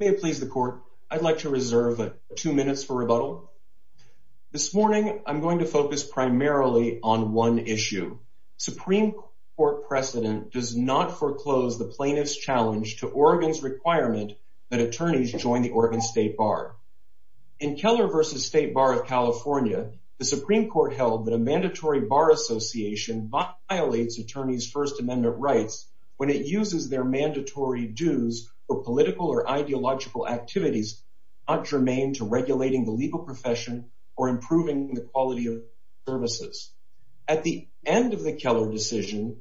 May it please the court, I'd like to reserve two minutes for rebuttal. This morning I'm going to focus primarily on one issue. Supreme Court precedent does not foreclose the plaintiff's challenge to Oregon's requirement that attorneys join the Oregon State Bar. In Keller v. State Bar of California, the Supreme Court held that a mandatory bar association violates attorneys' First Dues for political or ideological activities not germane to regulating the legal profession or improving the quality of services. At the end of the Keller decision,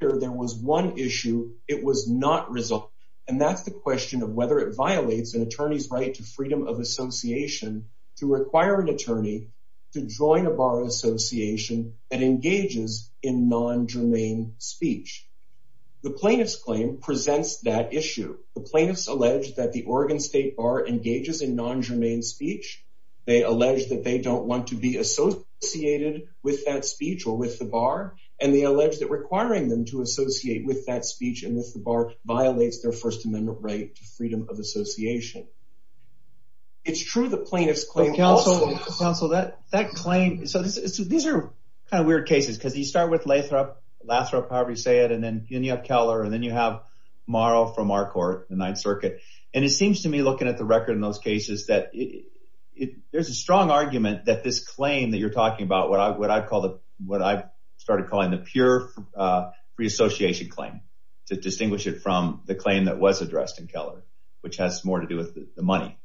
there was one issue. It was not resolved, and that's the question of whether it violates an attorney's right to freedom of association to require an attorney to join a bar association that engages in non-germane speech. The plaintiffs allege that the Oregon State Bar engages in non-germane speech. They allege that they don't want to be associated with that speech or with the bar, and they allege that requiring them to associate with that speech and with the bar violates their First Amendment right to freedom of association. It's true the plaintiff's claim... Counsel, that claim, so these are kind of weird cases because you start with Lathrop, however you say it, and then you have Keller, and then you have Morrow from our court, the Ninth Circuit, and it seems to me looking at the record in those cases that there's a strong argument that this claim that you're talking about, what I've called it, what I started calling the pure free association claim to distinguish it from the claim that was addressed in Keller, which has more to do with the money.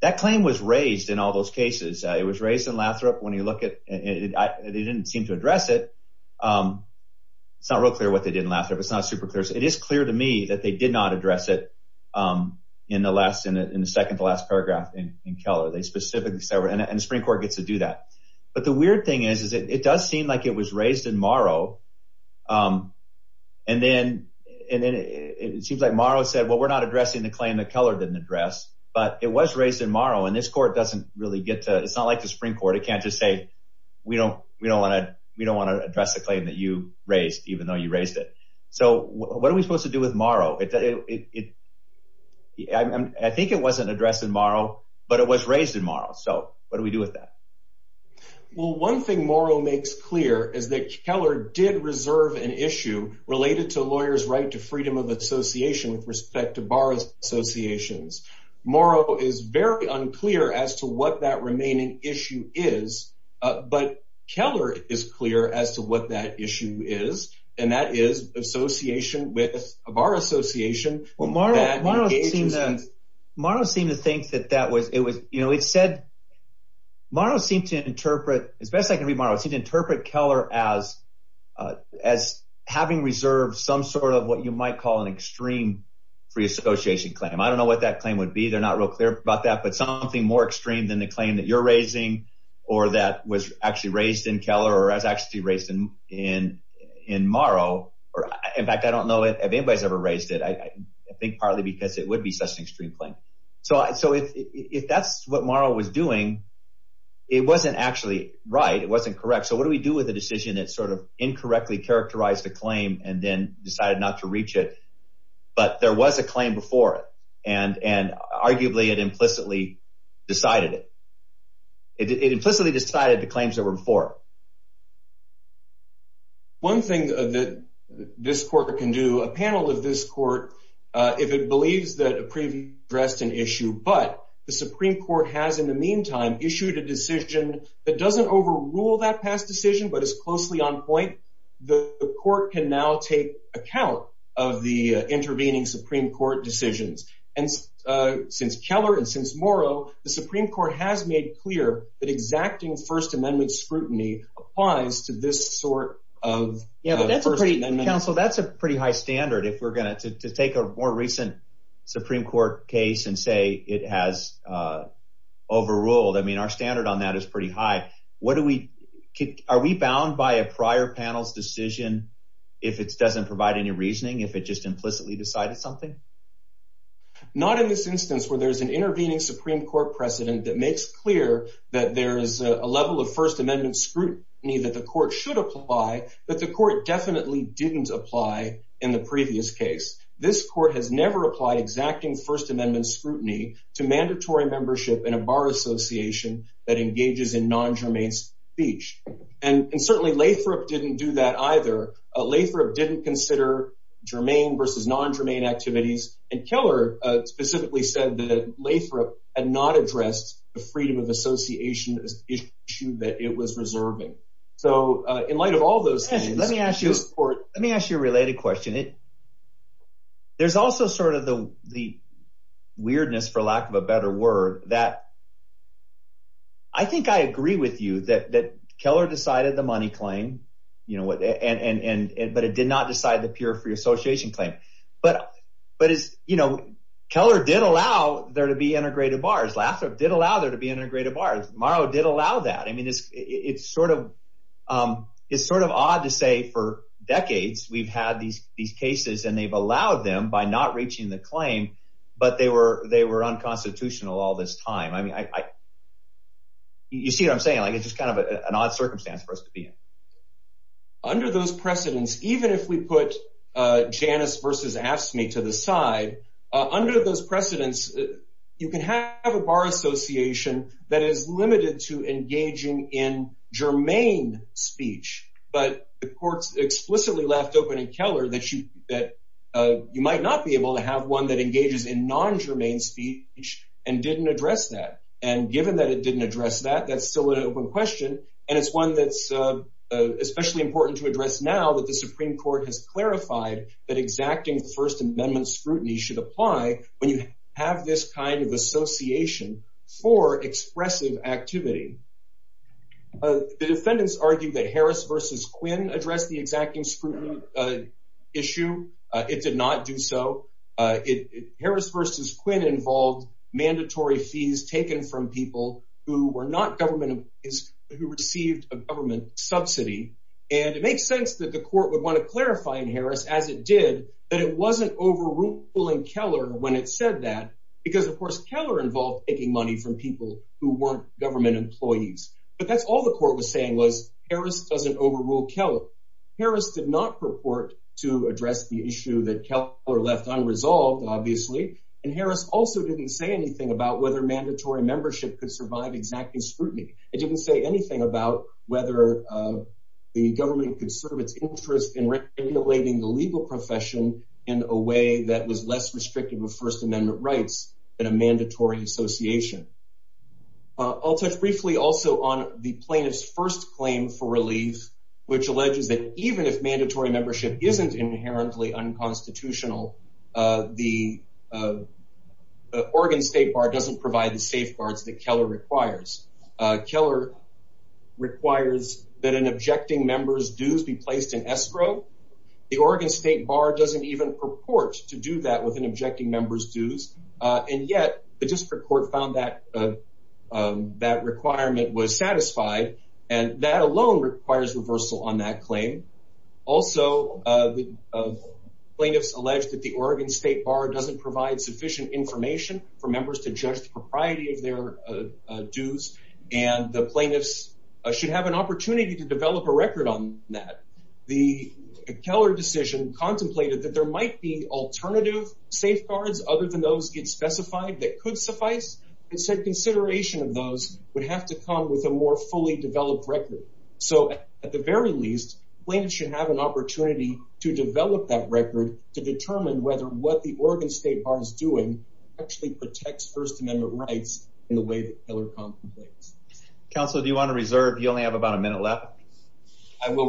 That claim was raised in all those cases. It was raised in Keller. It's not real clear what they did in Lathrop. It's not super clear. It is clear to me that they did not address it in the second to last paragraph in Keller. They specifically said, and the Supreme Court gets to do that, but the weird thing is it does seem like it was raised in Morrow, and then it seems like Morrow said, well we're not addressing the claim that Keller didn't address, but it was raised in Morrow, and this court doesn't really get to... it's not like the Supreme Court. It can't just say we don't want to address the claim that you raised, even though you raised it. So what are we supposed to do with Morrow? I think it wasn't addressed in Morrow, but it was raised in Morrow, so what do we do with that? Well, one thing Morrow makes clear is that Keller did reserve an issue related to lawyers' right to freedom of association with respect to borrowers associations. Morrow is very unclear as to what that remaining issue is, but Keller is clear as to what that issue is, and that is association with... of our association. Morrow seemed to think that that was... it said... Morrow seemed to interpret, as best I can read Morrow, it seemed to interpret Keller as having reserved some sort of what you might call an extreme free association claim. I don't know if you're aware about that, but something more extreme than the claim that you're raising, or that was actually raised in Keller, or has actually raised in Morrow. In fact, I don't know if anybody's ever raised it. I think partly because it would be such an extreme claim. So if that's what Morrow was doing, it wasn't actually right. It wasn't correct. So what do we do with a decision that sort of incorrectly characterized a claim and then decided not to reach it? But there was a claim before it, and arguably it implicitly decided it. It implicitly decided the claims that were before. One thing that this court can do, a panel of this court, if it believes that a previous address is an issue, but the Supreme Court has in the meantime issued a decision that doesn't overrule that past decision, but is closely on point, the court can now take account of the intervening Supreme Court decisions. And since Keller and since Morrow, the Supreme Court has made clear that exacting First Amendment scrutiny applies to this sort of First Amendment. Yeah, but that's a pretty high standard if we're going to take a more recent Supreme Court case and say it has overruled. I mean, our standard on that is pretty high. Are we bound by a prior panel's decision if it just implicitly decided something? Not in this instance, where there's an intervening Supreme Court precedent that makes clear that there is a level of First Amendment scrutiny that the court should apply, but the court definitely didn't apply in the previous case. This court has never applied exacting First Amendment scrutiny to mandatory membership in a bar association that engages in non-germane speech. And certainly Lathrop didn't do that either. Lathrop didn't consider germane versus non-germane activities, and Keller specifically said that Lathrop had not addressed the freedom of association issue that it was reserving. So in light of all those things, this court... Let me ask you a related question. There's also sort of the weirdness, for lack of a better word, that I think I agree with you that Keller decided the money claim, but it did not decide the peer-free association claim. But Keller did allow there to be integrated bars. Lathrop did allow there to be integrated bars. Morrow did allow that. I mean, it's sort of odd to say for decades we've had these cases and they've allowed them by not reaching the claim, but they were unconstitutional all this time. I mean, you see what I'm saying? It's just kind of an odd circumstance for us to be in. Under those precedents, even if we put Janus versus AFSCME to the side, under those precedents you can have a bar association that is limited to engaging in germane speech, but the courts explicitly left open in Keller that you might not be able to have one that engages in non-germane speech and didn't address that. And given that it didn't address that, that's still an open question and it's one that's especially important to address now that the Supreme Court has clarified that exacting the First Amendment scrutiny should apply when you have this kind of association for expressive activity. The defendants argued that Harris versus Quinn addressed the exacting scrutiny issue. It did not do so. Harris versus Quinn involved mandatory fees taken from people who were not government, who received a government subsidy, and it makes sense that the court would want to clarify in Harris, as it did, that it wasn't overruling Keller when it said that, because of course Keller involved taking money from people who weren't government employees. But that's all the court was saying was Harris doesn't overrule Keller. Harris did not purport to address the issue that Keller left unresolved, obviously, and Harris also didn't say anything about whether mandatory membership could survive exacting scrutiny. It didn't say anything about whether the government could serve its interest in regulating the legal profession in a way that was less restrictive of First Amendment rights than a mandatory association. I'll touch briefly also on the plaintiff's first claim for relief, which alleges that even if mandatory membership isn't inherently unconstitutional, the Oregon State Bar doesn't provide the safeguards that Keller requires. Keller requires that an objecting member's dues be placed in escrow. The Oregon State Bar doesn't even purport to do that with an objecting member's dues, and yet the district court found that that requirement was satisfied, and that alone requires reversal on that claim. Also, plaintiffs allege that the Oregon State Bar doesn't provide sufficient information for members to judge the propriety of their dues, and the plaintiffs should have an opportunity to develop a record on that. The Keller decision contemplated that there might be alternative safeguards other than those that get specified that could suffice, and said consideration of those would have to come with a more fully developed record. So, at the very least, plaintiffs should have an opportunity to develop that record to determine whether what the Oregon State Bar is doing actually protects First Amendment rights in the way that Keller contemplates. Counselor, do you want to reserve? You only have about a minute left. I will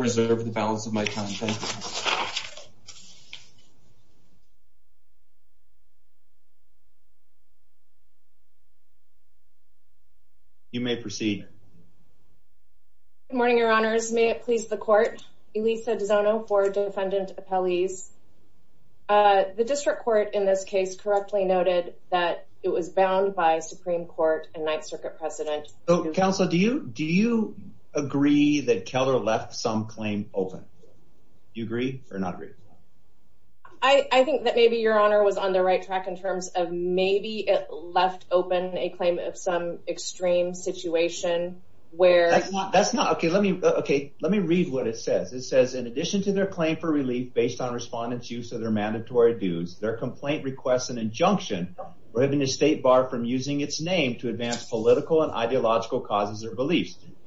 You may proceed. Good morning, Your Honors. May it please the Court? Elisa DiZono for Defendant Appellees. The district court in this case correctly noted that it was bound by Supreme Court and Ninth Circuit precedent. Counselor, do you agree that Keller left some claim open? Do you agree or not agree? I think that maybe Your Honor was on the right track in terms of maybe it left open a claim of some extreme situation where... That's not, okay, let me, okay, let me read what it says. It says, in addition to their claim for relief based on respondents use of their mandatory dues, their complaint requests an injunction prohibiting the State Bar from using its name to advance political and ideological causes or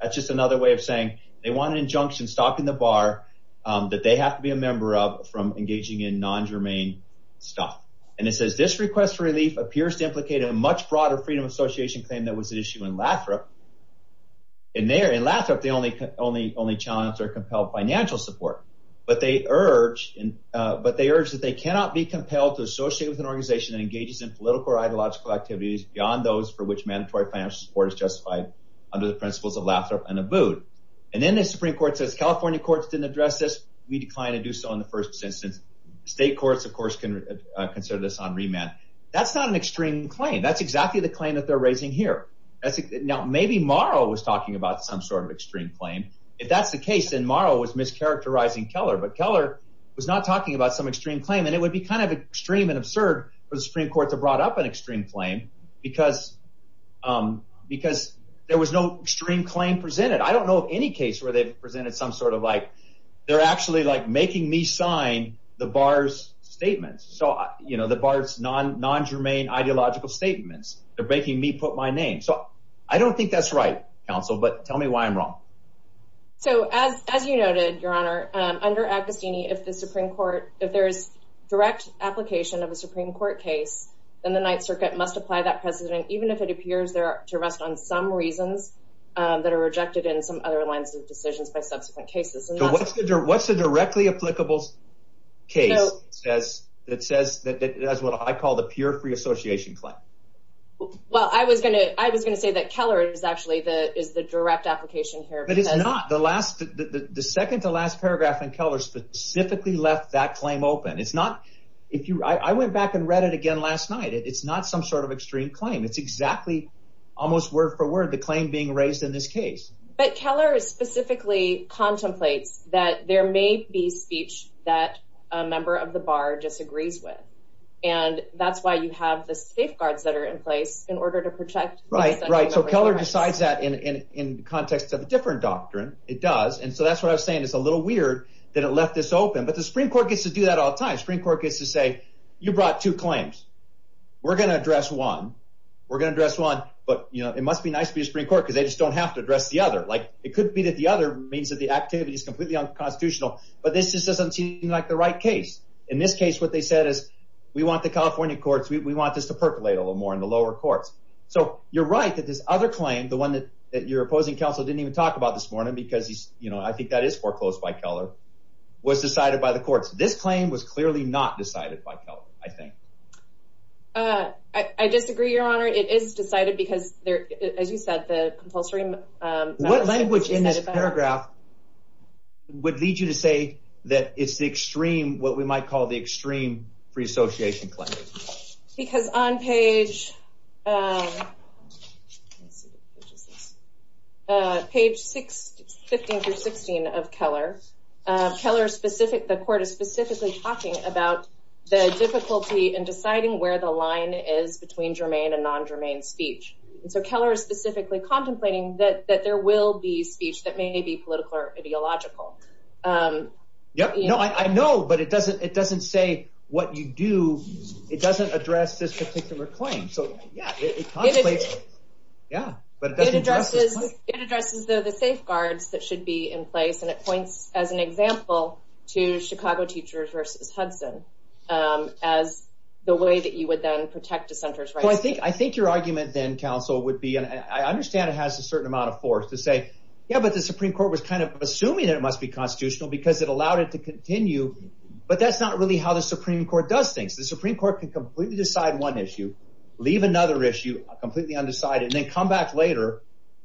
that's just another way of saying they want an injunction stopping the bar that they have to be a member of from engaging in non-germane stuff. And it says, this request for relief appears to implicate a much broader Freedom of Association claim that was at issue in Lathrop. In Lathrop, they only challenged or compelled financial support, but they urge that they cannot be compelled to associate with an organization that engages in political or ideological activities beyond those for which mandatory financial support is justified under the principles of NABUD. And then the Supreme Court says, California courts didn't address this. We decline to do so in the first instance. State courts, of course, can consider this on remand. That's not an extreme claim. That's exactly the claim that they're raising here. Now, maybe Morrow was talking about some sort of extreme claim. If that's the case, then Morrow was mischaracterizing Keller, but Keller was not talking about some extreme claim. And it would be kind of extreme and absurd for the Supreme Court to brought up an extreme claim because there was no extreme claim presented. I don't know of any case where they've presented some sort of like, they're actually like making me sign the bar's statements. So, you know, the bar's non-germane ideological statements. They're making me put my name. So, I don't think that's right, counsel, but tell me why I'm wrong. So, as you noted, Your Honor, under Agostini, if there's direct application of a Supreme Court case, then the Ninth Circuit must apply that precedent, even if it appears there to rest on some reasons that are rejected in some other lines of decisions by subsequent cases. So, what's a directly applicable case that says that it has what I call the pure free association claim? Well, I was going to say that Keller is actually the direct application here. But it's not. The second to last paragraph in Keller specifically left that claim open. It's not, if you, I went back and read it again last night. It's not some sort of extreme claim. It's exactly, almost word-for-word, the claim being raised in this case. But Keller specifically contemplates that there may be speech that a member of the bar just agrees with. And that's why you have the safeguards that are in place in order to protect. Right, right. So, Keller decides that in context of a different doctrine. It does. And so, that's what I was saying. It's a little weird that it left this open. But the Supreme Court gets to do that all the time. Supreme Court got two claims. We're going to address one. We're going to address one. But, you know, it must be nice to be a Supreme Court because they just don't have to address the other. Like, it could be that the other means that the activity is completely unconstitutional. But this just doesn't seem like the right case. In this case, what they said is, we want the California courts, we want this to percolate a little more in the lower courts. So, you're right that this other claim, the one that your opposing counsel didn't even talk about this morning because he's, you know, I think that is foreclosed by Keller, was decided by the courts. This claim was clearly not decided by Keller, I think. I disagree, Your Honor. It is decided because, as you said, the compulsory... What language in this paragraph would lead you to say that it's the extreme, what we might call the extreme free association claim? Because on page, page 15 through 16 of Keller, Keller's specific, the court is specifically talking about the difficulty in deciding where the line is between germane and non-germane speech. And so Keller is specifically contemplating that there will be speech that may be political or ideological. Yeah, no, I know, but it doesn't, it doesn't say what you do, it doesn't address this particular claim. So, yeah, it contemplates, yeah, but it doesn't address this claim. It addresses the safeguards that should be in place, as an example to Chicago Teachers versus Hudson, as the way that you would then protect a center's rights. Well, I think, I think your argument then, counsel, would be, and I understand it has a certain amount of force, to say, yeah, but the Supreme Court was kind of assuming that it must be constitutional because it allowed it to continue, but that's not really how the Supreme Court does things. The Supreme Court can completely decide one issue, leave another issue completely undecided, and then come back later,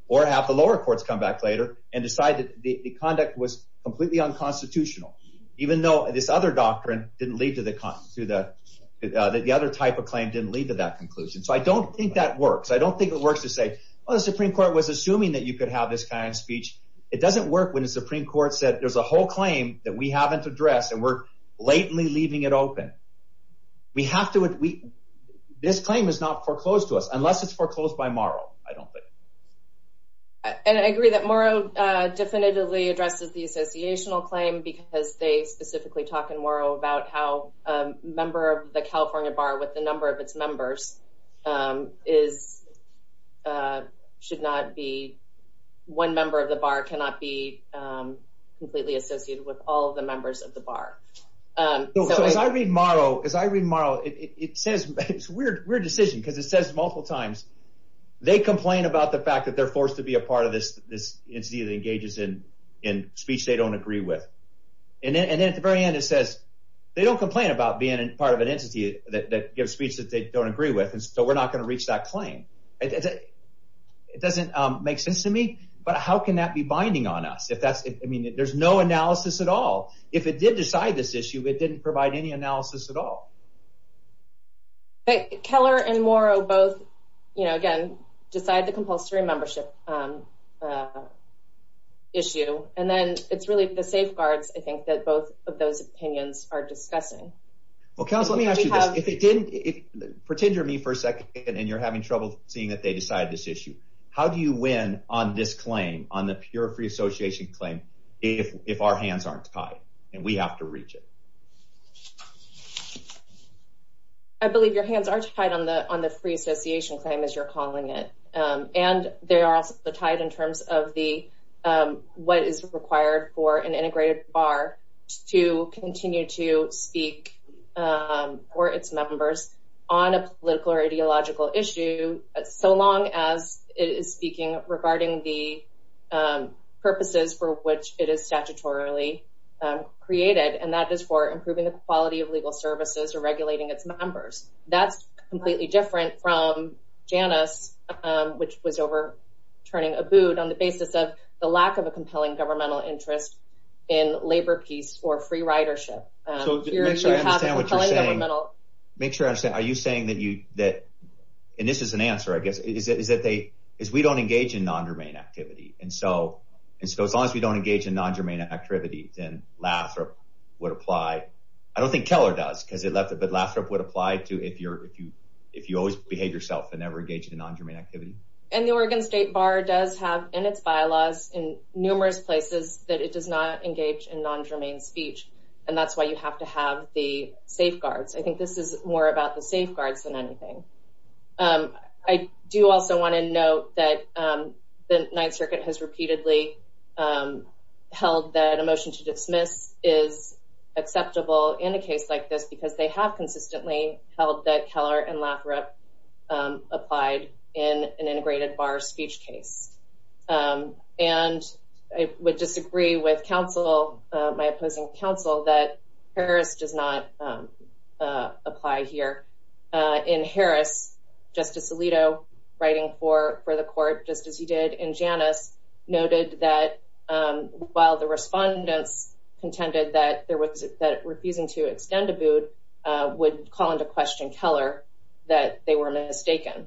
or have the lower courts come back later, and decide that the conduct was completely unconstitutional, even though this other doctrine didn't lead to the, that the other type of claim didn't lead to that conclusion. So, I don't think that works. I don't think it works to say, well, the Supreme Court was assuming that you could have this kind of speech. It doesn't work when the Supreme Court said, there's a whole claim that we haven't addressed, and we're blatantly leaving it open. We have to, this claim is not foreclosed to us, unless it's foreclosed by Morrow, I don't agree that Morrow definitively addresses the associational claim, because they specifically talk in Morrow about how a member of the California bar, with the number of its members, is, should not be, one member of the bar cannot be completely associated with all the members of the bar. So, as I read Morrow, as I read Morrow, it says, it's a weird decision, because it says multiple times, they complain about the fact that they're forced to be a part of this entity that engages in speech they don't agree with, and then at the very end it says, they don't complain about being a part of an entity that gives speech that they don't agree with, and so we're not going to reach that claim. It doesn't make sense to me, but how can that be binding on us? If that's, I mean, there's no analysis at all. If it did decide this issue, it didn't provide any you know, again, decide the compulsory membership issue, and then it's really the safeguards, I think, that both of those opinions are discussing. Well, counsel, let me ask you this. Pretend you're me for a second, and you're having trouble seeing that they decided this issue. How do you win on this claim, on the pure free association claim, if our hands aren't tied, and we have to reach it? I believe your hands aren't tied on the on the free association claim, as you're calling it, and they are also tied in terms of the, what is required for an integrated bar to continue to speak for its members on a political or ideological issue, so long as it is speaking regarding the purposes for which it is statutorily created, and that is for improving the quality of legal services or regulating its members. That's completely different from Janus, which was overturning Abood on the basis of the lack of a compelling governmental interest in labor peace or free ridership. Make sure I understand what you're saying. Are you saying that you, that, and this is an answer, I guess, is that they, is we don't engage in non-germane activity, and so as long as we don't engage in non-germane activity, then Lathrop would apply. I don't think Keller does, because Lathrop would apply to if you always behave yourself and never engage in non-germane activity. And the Oregon State Bar does have, in its bylaws, in numerous places, that it does not engage in non-germane speech, and that's why you have to have the safeguards. I think this is more about the safeguards than anything. I do also want to note that the Ninth Circuit has repeatedly held that a motion to dismiss is acceptable in a case like this because they have consistently held that Keller and Lathrop applied in an integrated bar speech case. And I would disagree with counsel, my opposing counsel, that Harris does not apply here. In Harris, Justice Alito, writing for the court, just as he did in Janus, noted that while the respondents contended that refusing to extend a boot would call into question Keller, that they were mistaken.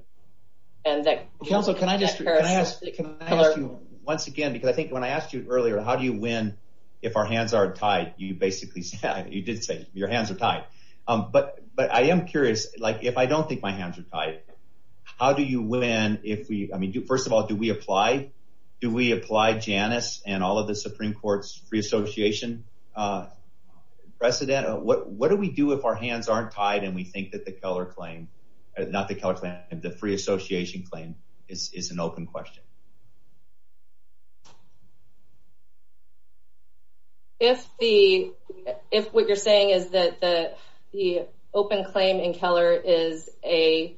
And that, counsel, can I just, can I ask you, once again, because I think when I asked you earlier, how do you win if our hands aren't tied, you basically said, you did say your hands are tied. But I am curious, like, if I don't think my hands are tied, how do you win if we, I mean, first of all, do we apply? Do we apply Janus and all of the Supreme Court's free association precedent? What do we do if our hands aren't tied and we think that the Keller claim, not the Keller claim, the free association claim is an open question? If the, if what you're saying is that the open claim in Keller is a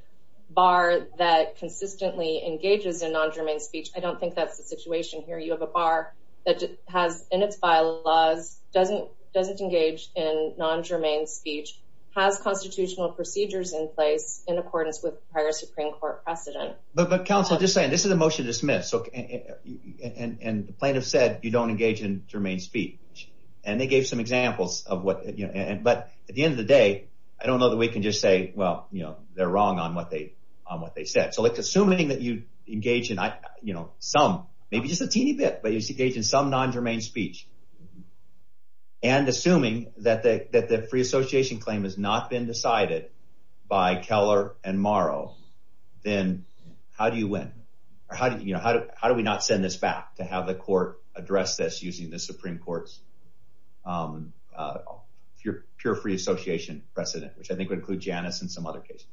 bar that consistently engages in non-germane speech, I don't think that's the situation here. You have a bar that has, in its bylaws, doesn't engage in non-germane speech, has constitutional procedures in place in accordance with prior Supreme Court precedent. But counsel, just saying, this is a motion to dismiss. And the plaintiffs said, you don't engage in germane speech. And they gave some examples of what, but at the end of the day, I don't know that we can just say, well, they're wrong on what they said. So assuming that you engage in some, maybe just a teeny bit, but you engage in some non-germane speech and assuming that the free association claim has not been decided by Keller and Morrow, then how do you win? Or how do we not send this back to have the court address this using the Supreme Court's pure free association precedent, which I think would include Janice and some other cases.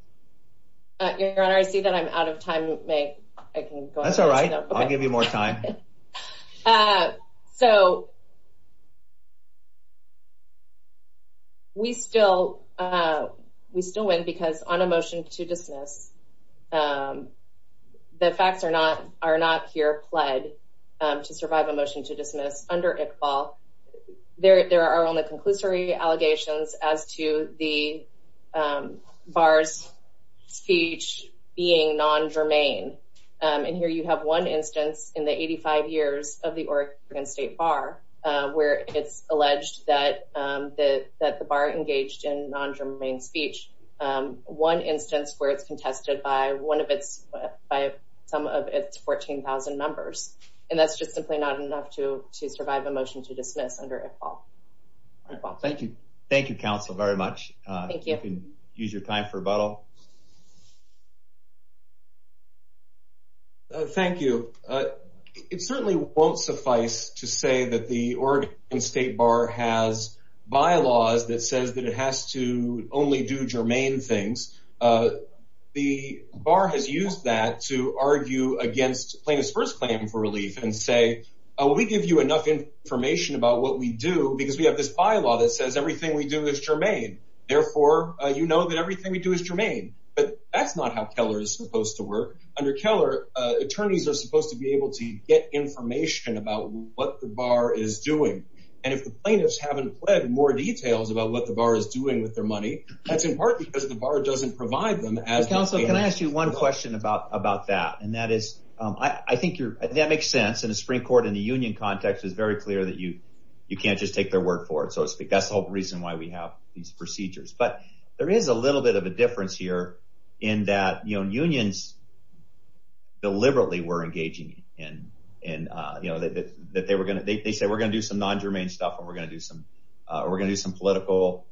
Your Honor, I see that I'm out of time. May I can go? That's all right. I'll give you more time. So we still win because on a motion to dismiss, the facts are not here pled to survive a motion to dismiss under Iqbal. There are only conclusory allegations as to the bar's speech being non-germane. And here you have one instance in the 85 years of the Oregon State Bar where it's alleged that the bar engaged in non-germane speech. One instance where it's contested by some of its 14,000 members. And that's just simply not enough to survive a motion to dismiss under Iqbal. Thank you. Thank you, counsel, very much. You can use your time for rebuttal. Thank you. It certainly won't suffice to say that the Oregon State Bar has bylaws that says that it only does germane things. The bar has used that to argue against plaintiff's first claim for relief and say, we give you enough information about what we do because we have this bylaw that says everything we do is germane. Therefore, you know that everything we do is germane. But that's not how Keller is supposed to work. Under Keller, attorneys are supposed to be able to get information about what the bar is doing. And if the plaintiffs haven't pled more details about what the bar is doing with their money, that's in part because the bar doesn't provide them as counsel. Can I ask you one question about about that? And that is, I think that makes sense in the Supreme Court in the union context is very clear that you you can't just take their word for it. So that's the whole reason why we have these procedures. But there is a little bit of a difference here in that, you know, unions deliberately were engaging in and that they were going to they say we're going to do some non-germane stuff and we're going to do some we're going to do some political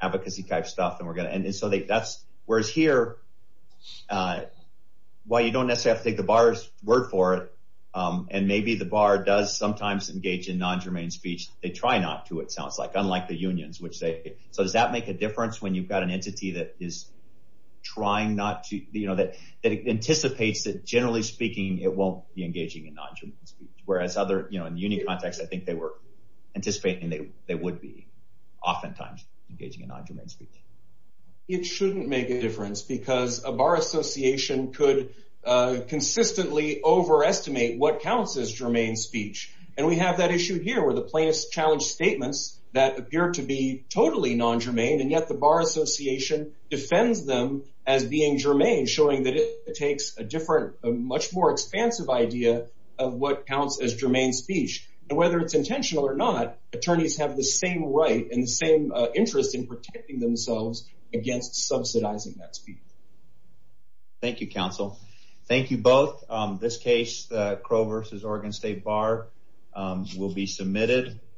advocacy type stuff and we're going to. And so that's whereas here, why you don't necessarily have to take the bar's word for it. And maybe the bar does sometimes engage in non-germane speech. They try not to, it sounds like, unlike the unions, which they. So does that make a difference when you've got an entity that is trying not to, you know, that anticipates that generally speaking, it won't be engaging in non-germane speech, whereas other, you know, in the union context, I think they were oftentimes engaging in non-germane speech. It shouldn't make a difference because a bar association could consistently overestimate what counts as germane speech. And we have that issue here where the plaintiffs challenge statements that appear to be totally non-germane. And yet the bar association defends them as being germane, showing that it takes a different, much more expansive idea of what counts as germane speech. And whether it's intentional or not, attorneys have the same right and the same interest in protecting themselves against subsidizing that speech. Thank you, counsel. Thank you both. This case, Crow v. Oregon State Bar, will be submitted.